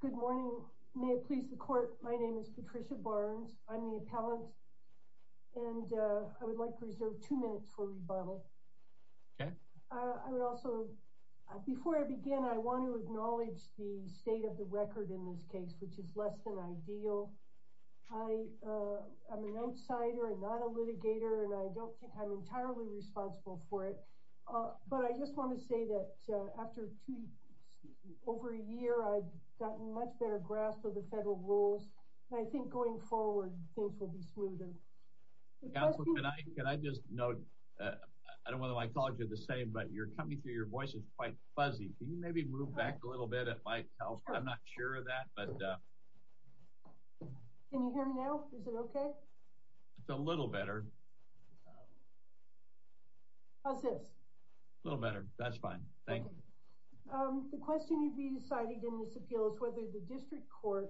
Good morning. May it please the court. My name is Patricia Barnes. I'm the appellant and I would like to reserve two minutes for rebuttal. I would also, before I begin, I want to acknowledge the state of the record in this case, which is less than ideal. I am an outsider and not a litigator and I don't think I'm entirely responsible for it. But I just want to say that after over a year, I've gotten a much better grasp of the federal rules. I think going forward, things will be smoother. Counselor, can I just note, I don't know if I called you the same, but you're coming through your voice is quite fuzzy. Can you maybe move back a little bit at my health? I'm not sure of that. Can you hear me now? Is it okay? It's a little better. How's this? A little better. That's fine. Thank you. The question you'd be citing in this appeal is whether the district court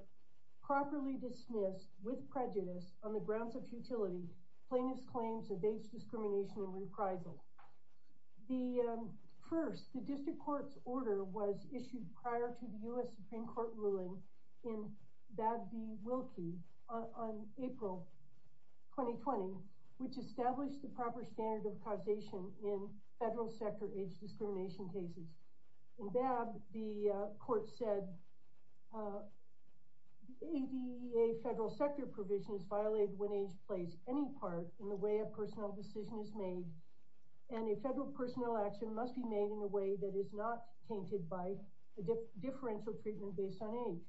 properly dismissed with prejudice on the grounds of futility, plaintiff's claims of discrimination and reprisal. First, the district court's order was issued prior to the U.S. Supreme Court ruling in Babb v. Wilkie on April 2020, which established the proper standard of causation in federal sector age discrimination cases. In Babb, the court said, ADA federal sector provision is violated when age plays any part in the way a personal decision is made, and a federal personnel action must be made in a way that is not tainted by a differential treatment based on age.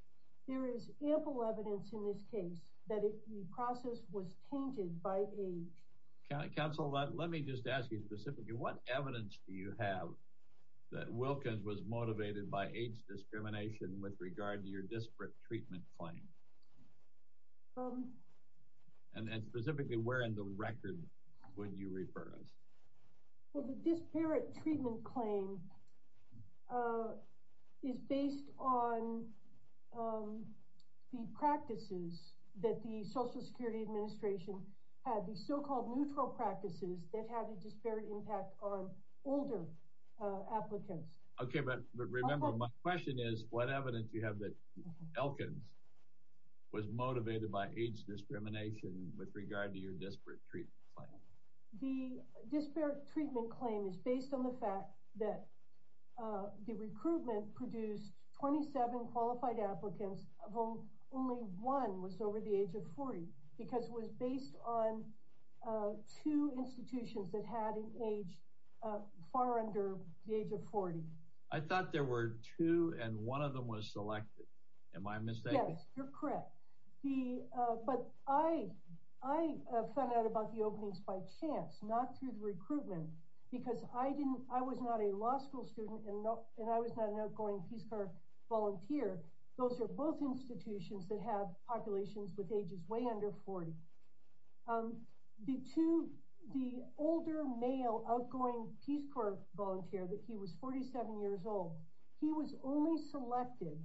There is ample evidence in this case that the process was tainted by age. Counsel, let me just ask you specifically, what evidence do you have that Wilkins was motivated by age discrimination with regard to your disparate treatment claim? And specifically, where in the record would you refer us? Well, the disparate treatment claim is based on the practices that the Social Security Administration had, the so-called neutral practices that had a disparate impact on older applicants. OK, but remember, my question is, what evidence do you have that Wilkins was motivated by age discrimination with regard to your disparate treatment claim? The disparate treatment claim is based on the fact that the recruitment produced 27 qualified applicants of whom only one was over the age of 40, because it was based on two institutions that had an age far under the age of 40. I thought there were two and one of them was selected. Am I mistaken? Yes, you're correct. But I found out about the openings by chance, not through the recruitment, because I was not a law school student and I was not an outgoing Peace Corps volunteer. Those are both institutions that have populations with ages way under 40. The two, the older male outgoing Peace Corps volunteer that he was 47 years old, he was only selected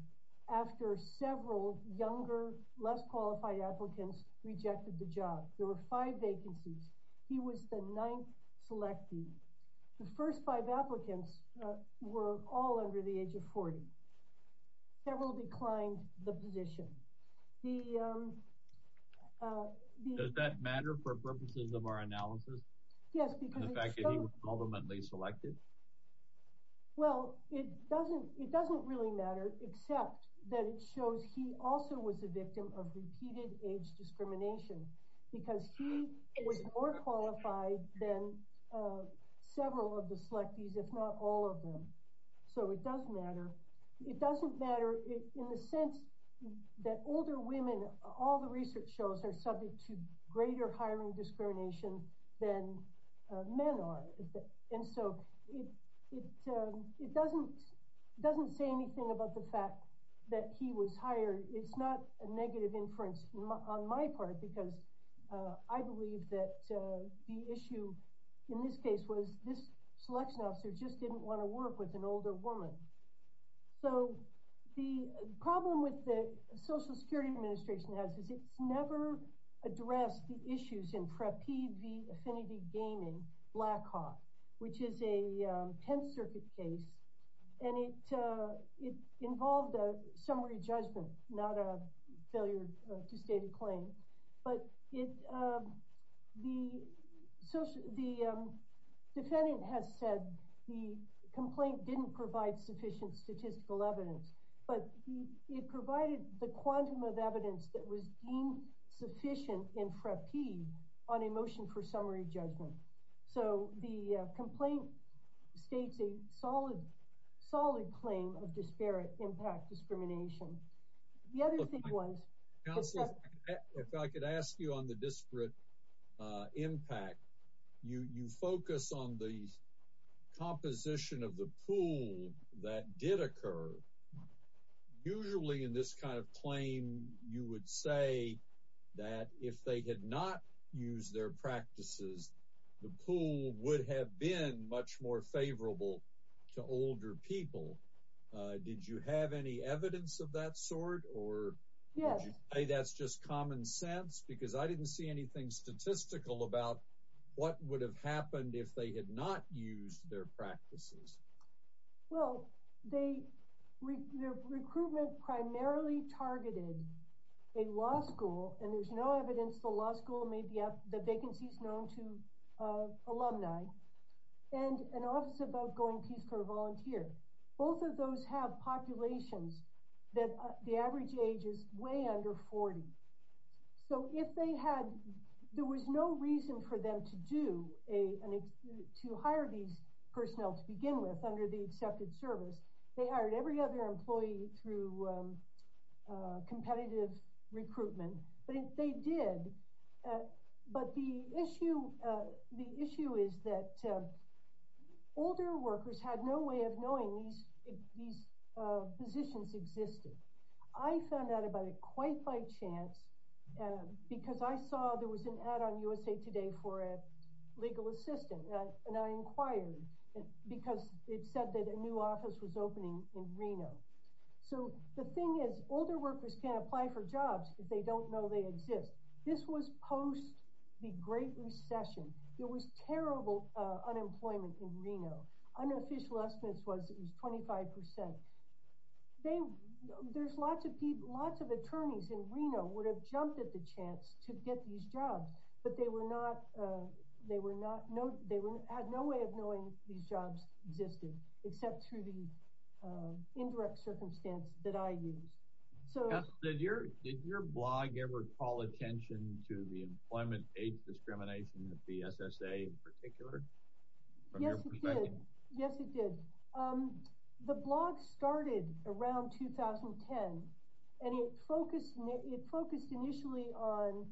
after several younger, less qualified applicants rejected the job. There were five vacancies. He was the ninth selected. The first five applicants were all under the age of 40. Several declined the position. Does that matter for purposes of our analysis? Yes, because ultimately selected. Well, it doesn't it doesn't really matter, except that it shows he also was a victim of repeated age discrimination because he was more qualified than several of the selectees, if not all of them. So it does matter. It doesn't matter in the sense that older women, all the research shows are subject to greater hiring discrimination than men are. And so it doesn't it doesn't say anything about the fact that he was hired. It's not a negative inference on my part, because I believe that the issue in this case was this selection officer just didn't want to work with an older woman. So the problem with the Social Security Administration has is it's never addressed the issues in Preppied v. Affinity Gaming Blackhawk, which is a 10th Circuit case. And it involved a summary judgment, not a failure to state a claim. But the defendant has said the complaint didn't provide sufficient statistical evidence, but it provided the quantum of evidence that was deemed sufficient in Preppied on a motion for summary judgment. So the complaint states a solid, solid claim of disparate impact discrimination. If I could ask you on the disparate impact, you focus on the composition of the pool that did occur. Usually in this kind of claim, you would say that if they had not used their practices, the pool would have been much more favorable to older people. Did you have any evidence of that sort, or would you say that's just common sense? Because I didn't see anything statistical about what would have happened if they had not used their practices. Well, their recruitment primarily targeted a law school, and there's no evidence the law school made the vacancies known to alumni, and an office of outgoing Peace Corps volunteer. Both of those have populations that the average age is way under 40. So if they had, there was no reason for them to hire these personnel to begin with under the accepted service. They hired every other employee through competitive recruitment. They did, but the issue is that older workers had no way of knowing these positions existed. I found out about it quite by chance because I saw there was an ad on USA Today for a legal assistant, and I inquired because it said that a new office was opening in Reno. So the thing is, older workers can't apply for jobs if they don't know they exist. This was post the Great Recession. There was terrible unemployment in Reno. Unofficial estimates was it was 25%. Lots of attorneys in Reno would have jumped at the chance to get these jobs, but they had no way of knowing these jobs existed except through the indirect circumstance that I used. So did your blog ever call attention to the employment discrimination of the SSA in particular? Yes, it did. The blog started around 2010, and it focused initially on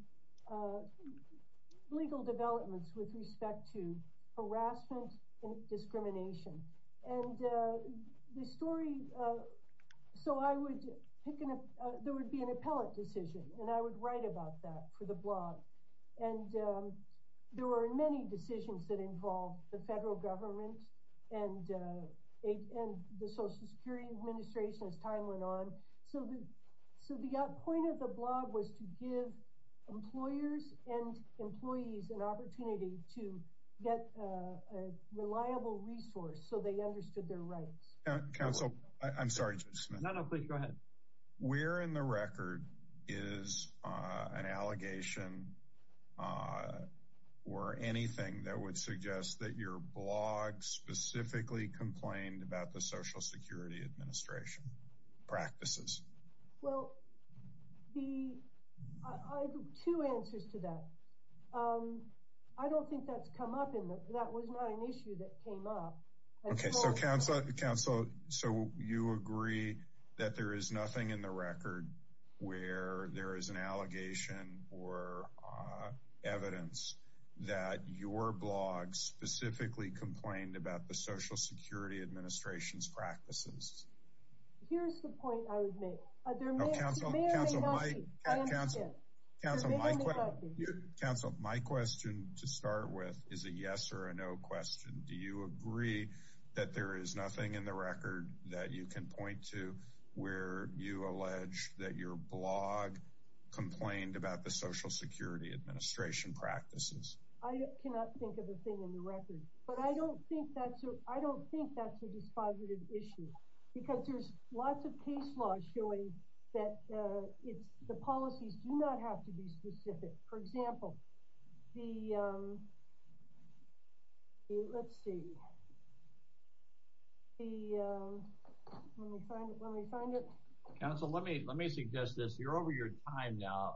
legal developments with respect to harassment and discrimination. And the story, so I would pick, there would be an appellate decision, and I would write about that for the blog. There were many decisions that involved the federal government and the Social Security Administration as time went on. So the point of the blog was to give employers and employees an opportunity to get a reliable resource so they understood their rights. I'm sorry, Judge Smith. No, no, please go ahead. Where in the record is an allegation or anything that would suggest that your blog specifically complained about the Social Security Administration practices? Well, I have two answers to that. I don't think that's come up. That was not an issue that came up. Okay, so counsel, so you agree that there is nothing in the record where there is an allegation or evidence that your blog specifically complained about the Social Security Administration's practices? Here's the point I would make. Counsel, my question to start with is a yes or a no question. Do you agree that there is nothing in the record that you can point to where you allege that your blog complained about the Social Security Administration practices? I cannot think of a thing in the record. But I don't think that's a dispositive issue because there's lots of case laws showing that the policies do not have to be specific. For example, the, let's see, the, let me find it, let me find it. Counsel, let me suggest this. You're over your time now.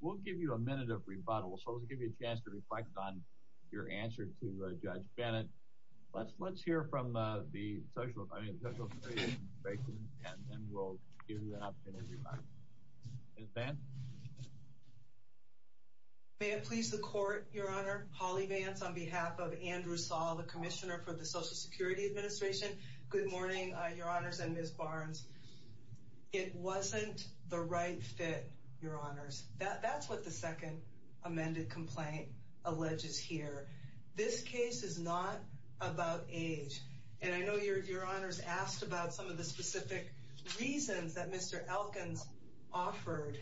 We'll give you a minute of rebuttal. So let's give you a chance to reflect on your answer to Judge Bennett. Let's hear from the Social Security Administration and then we'll give you an opportunity to reply. Ms. Vance? May it please the Court, Your Honor. Holly Vance on behalf of Andrew Saul, the Commissioner for the Social Security Administration. Good morning, Your Honors and Ms. Barnes. It wasn't the right fit, Your Honors. That's what the second amended complaint alleges here. This case is not about age. And I know Your Honors asked about some of the specific reasons that Mr. Elkins offered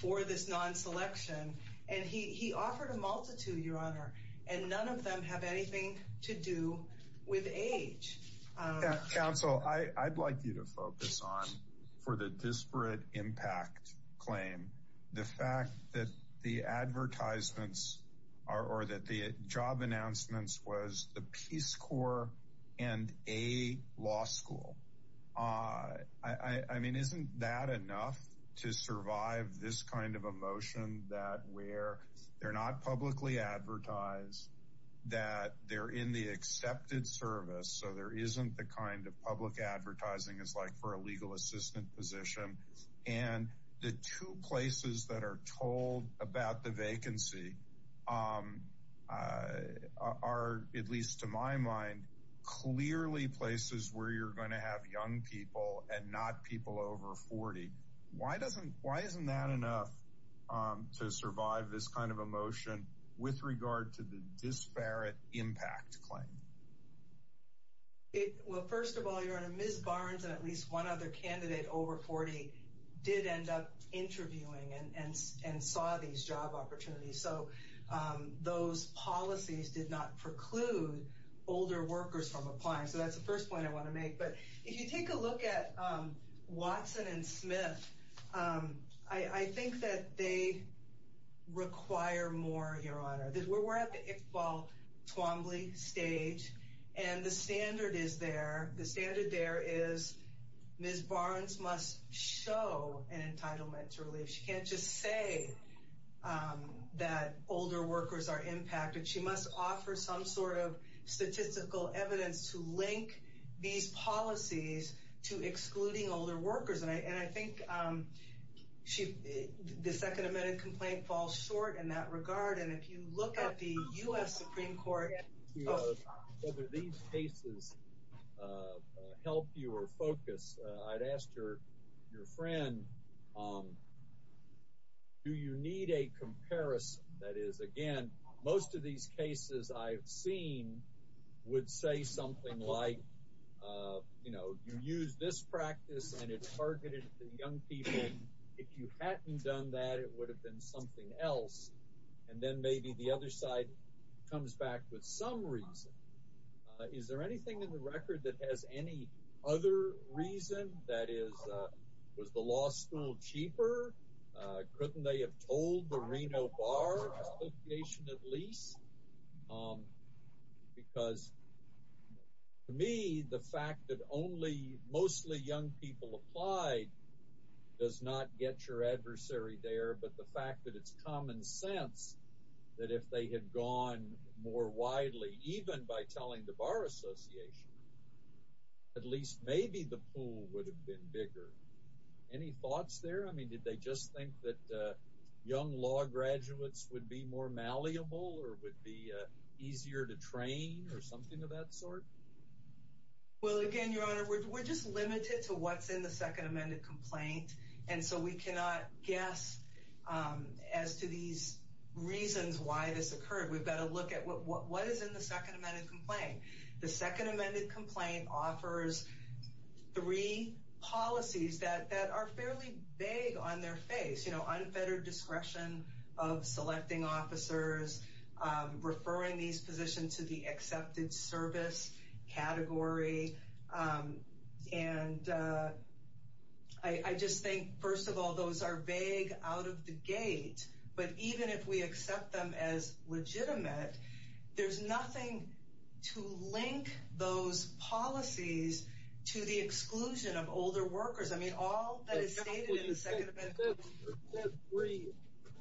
for this non-selection. And he offered a multitude, Your Honor, and none of them have anything to do with age. Counsel, I'd like you to focus on, for the disparate impact claim, the fact that the advertisements or that the job announcements was the Peace Corps and a law school. I mean, isn't that enough to survive this kind of emotion that where they're not publicly advertised, that they're in the accepted service, so there isn't the kind of public advertising it's like for a legal assistant position, and the two places that are told about the vacancy are, at least to my mind, clearly places where you're going to have young people and not people over 40. Why isn't that enough to survive this kind of emotion with regard to the disparate impact claim? Well, first of all, Your Honor, Ms. Barnes and at least one other candidate over 40 did end up interviewing and saw these job opportunities. So those policies did not preclude older workers from applying. So that's the first point I want to make. But if you take a look at Watson and Smith, I think that they require more, Your Honor. We're at the Iqbal Twombly stage, and the standard is there. The standard there is Ms. Barnes must show an entitlement to relief. She can't just say that older workers are impacted. She must offer some sort of statistical evidence to link these policies to excluding older workers. And I think the Second Amendment complaint falls short in that regard. And if you look at the U.S. Supreme Court— Whether these cases help you or focus, I'd ask your friend, do you need a comparison? That is, again, most of these cases I've seen would say something like, you know, you use this practice and it's targeted to young people. If you hadn't done that, it would have been something else. And then maybe the other side comes back with some reason. Is there anything in the record that has any other reason? That is, was the law school cheaper? Couldn't they have told the Reno Bar Association at least? Because to me, the fact that only mostly young people applied does not get your adversary there, but the fact that it's common sense that if they had gone more widely, even by telling the Bar Association, at least maybe the pool would have been bigger. Any thoughts there? I mean, did they just think that young law graduates would be more malleable or would be easier to train or something of that sort? Well, again, Your Honor, we're just limited to what's in the Second Amendment complaint. And so we cannot guess as to these reasons why this occurred. We've got to look at what is in the Second Amendment complaint. The Second Amendment complaint offers three policies that are fairly vague on their face. You know, unfettered discretion of selecting officers, referring these positions to the accepted service category. And I just think, first of all, those are vague out of the gate. But even if we accept them as legitimate, there's nothing to link those policies to the exclusion of older workers. I mean, all that is stated in the Second Amendment.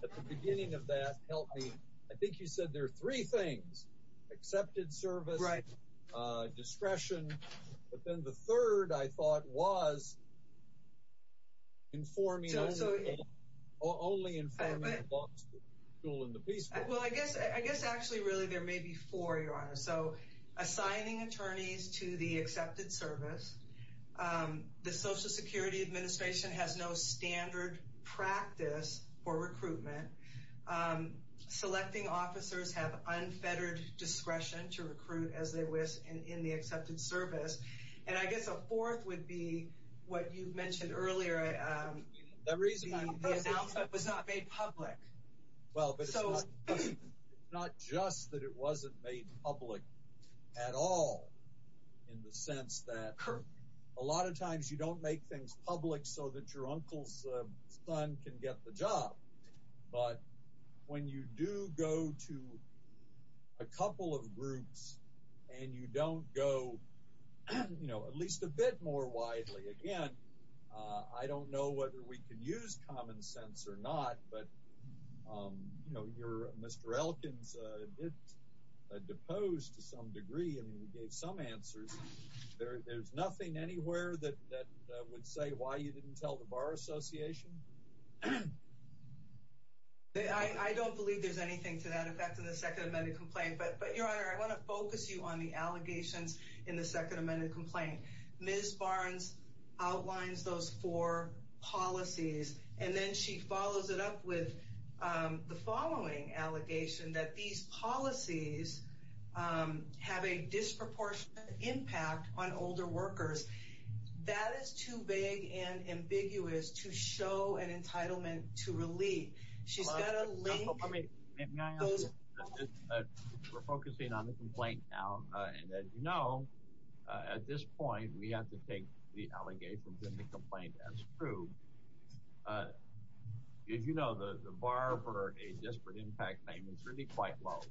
At the beginning of that, I think you said there are three things, accepted service, discretion. But then the third, I thought, was informing only informing the law school and the Peace Corps. Well, I guess actually really there may be four, Your Honor. So assigning attorneys to the accepted service. The Social Security Administration has no standard practice for recruitment. Selecting officers have unfettered discretion to recruit as they wish in the accepted service. And I guess a fourth would be what you mentioned earlier. The reason I put that. The announcement was not made public. Well, but it's not just that it wasn't made public at all in the sense that a lot of times you don't make things public so that your uncle's son can get the job. But when you do go to a couple of groups and you don't go, you know, at least a bit more widely. Again, I don't know whether we can use common sense or not. But, you know, Mr. Elkin's a bit deposed to some degree. I mean, he gave some answers. There's nothing anywhere that would say why you didn't tell the Bar Association. I don't believe there's anything to that effect in the Second Amendment complaint. But, Your Honor, I want to focus you on the allegations in the Second Amendment complaint. Ms. Barnes outlines those four policies. And then she follows it up with the following allegation that these policies have a disproportionate impact on older workers. That is too big and ambiguous to show an entitlement to relief. We're focusing on the complaint now. And as you know, at this point, we have to take the allegations in the complaint as true. As you know, the bar for a disparate impact claim is really quite low.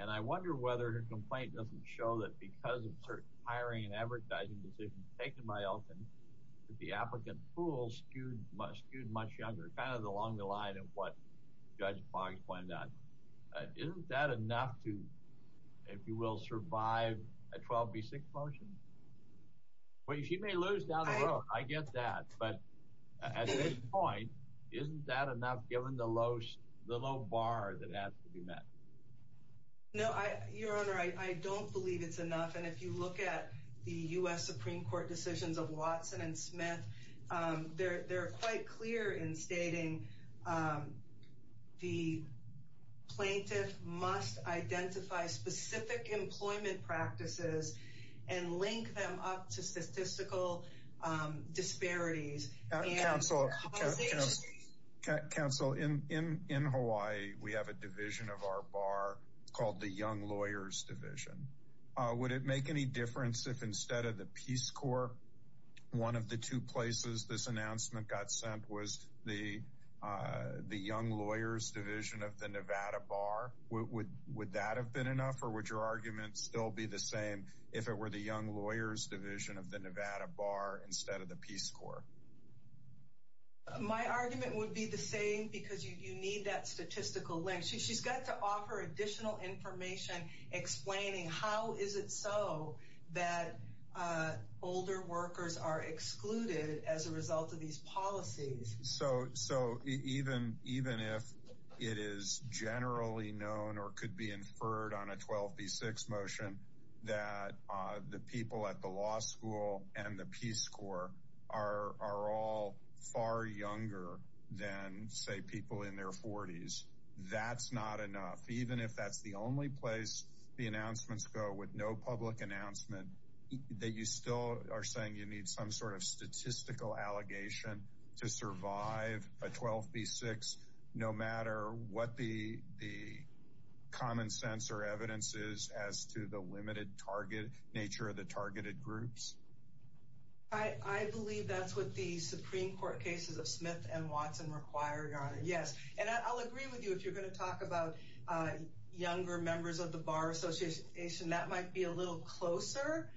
And I wonder whether her complaint doesn't show that because of certain hiring and advertising decisions taken by Elkin, that the applicant pool skewed much younger, kind of along the line of what Judge Boggs pointed out. Isn't that enough to, if you will, survive a 12B6 motion? Well, she may lose down the road. I get that. But at this point, isn't that enough given the low bar that has to be met? No, Your Honor, I don't believe it's enough. And if you look at the U.S. Supreme Court decisions of Watson and Smith, they're quite clear in stating the plaintiff must identify specific employment practices and link them up to statistical disparities. Counsel, in Hawaii, we have a division of our bar called the Young Lawyers Division. Would it make any difference if instead of the Peace Corps, one of the two places this announcement got sent was the Young Lawyers Division of the Nevada Bar? Would that have been enough or would your argument still be the same if it were the Young Lawyers Division of the Nevada Bar instead of the Peace Corps? My argument would be the same because you need that statistical link. She's got to offer additional information explaining how is it so that older workers are excluded as a result of these policies. So even if it is generally known or could be inferred on a 12B6 motion that the people at the law school and the Peace Corps are all far younger than, say, people in their 40s, that's not enough, even if that's the only place the announcements go with no public announcement, that you still are saying you need some sort of statistical allegation to survive a 12B6, no matter what the common sense or evidence is as to the limited nature of the targeted groups. I believe that's what the Supreme Court cases of Smith and Watson required on it, yes. And I'll agree with you if you're going to talk about younger members of the Bar Association. That might be a little closer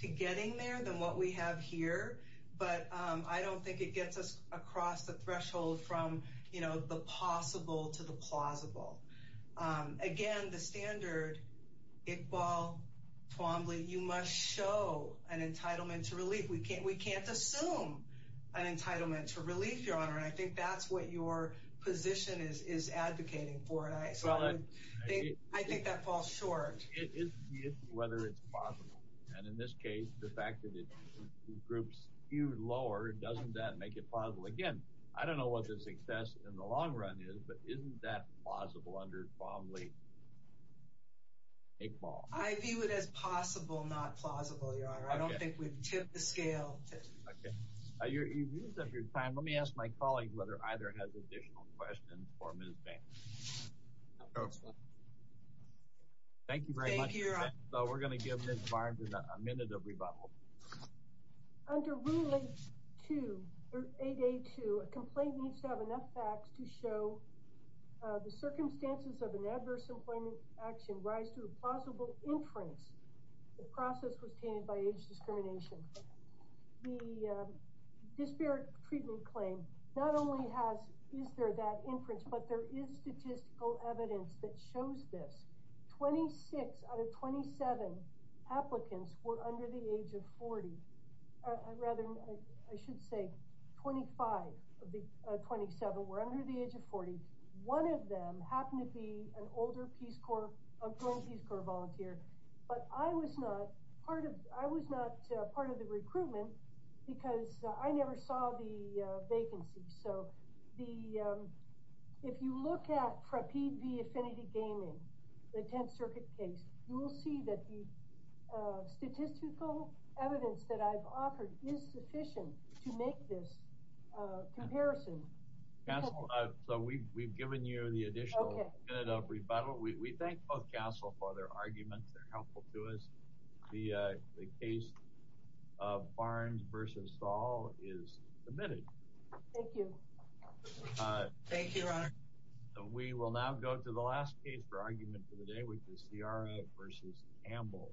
to getting there than what we have here. But I don't think it gets us across the threshold from the possible to the plausible. Again, the standard, Iqbal, Twombly, you must show an entitlement to relief. We can't assume an entitlement to relief, Your Honor. And I think that's what your position is advocating for. So I think that falls short. It is whether it's possible. And in this case, the fact that it groups you lower, doesn't that make it plausible? Again, I don't know what the success in the long run is, but isn't that plausible under Twombly, Iqbal? I view it as possible, not plausible, Your Honor. I don't think we've tipped the scale. Okay. You've used up your time. Let me ask my colleague whether either has additional questions for Ms. Banks. No. Thank you very much. Thank you, Your Honor. We're going to give Ms. Barnes a minute of rebuttal. Under Ruling 8A2, a complaint needs to have enough facts to show the circumstances of an adverse employment action rise to a plausible inference. The process was tainted by age discrimination. The disparate treatment claim not only has, is there that inference, but there is statistical evidence that shows this. 26 out of 27 applicants were under the age of 40. I should say 25 of the 27 were under the age of 40. One of them happened to be an older Peace Corps, a former Peace Corps volunteer, but I was not part of the recruitment because I never saw the vacancy. So, if you look at Prapeet V. Affinity Gaming, the 10th Circuit case, you will see that the statistical evidence that I've offered is sufficient to make this comparison. So, we've given you the additional minute of rebuttal. We thank both counsel for their arguments. They're helpful to us. The case of Barnes v. Saul is submitted. Thank you. Thank you, Your Honor. We will now go to the last case for argument for the day, which is Ciara v. Campbell.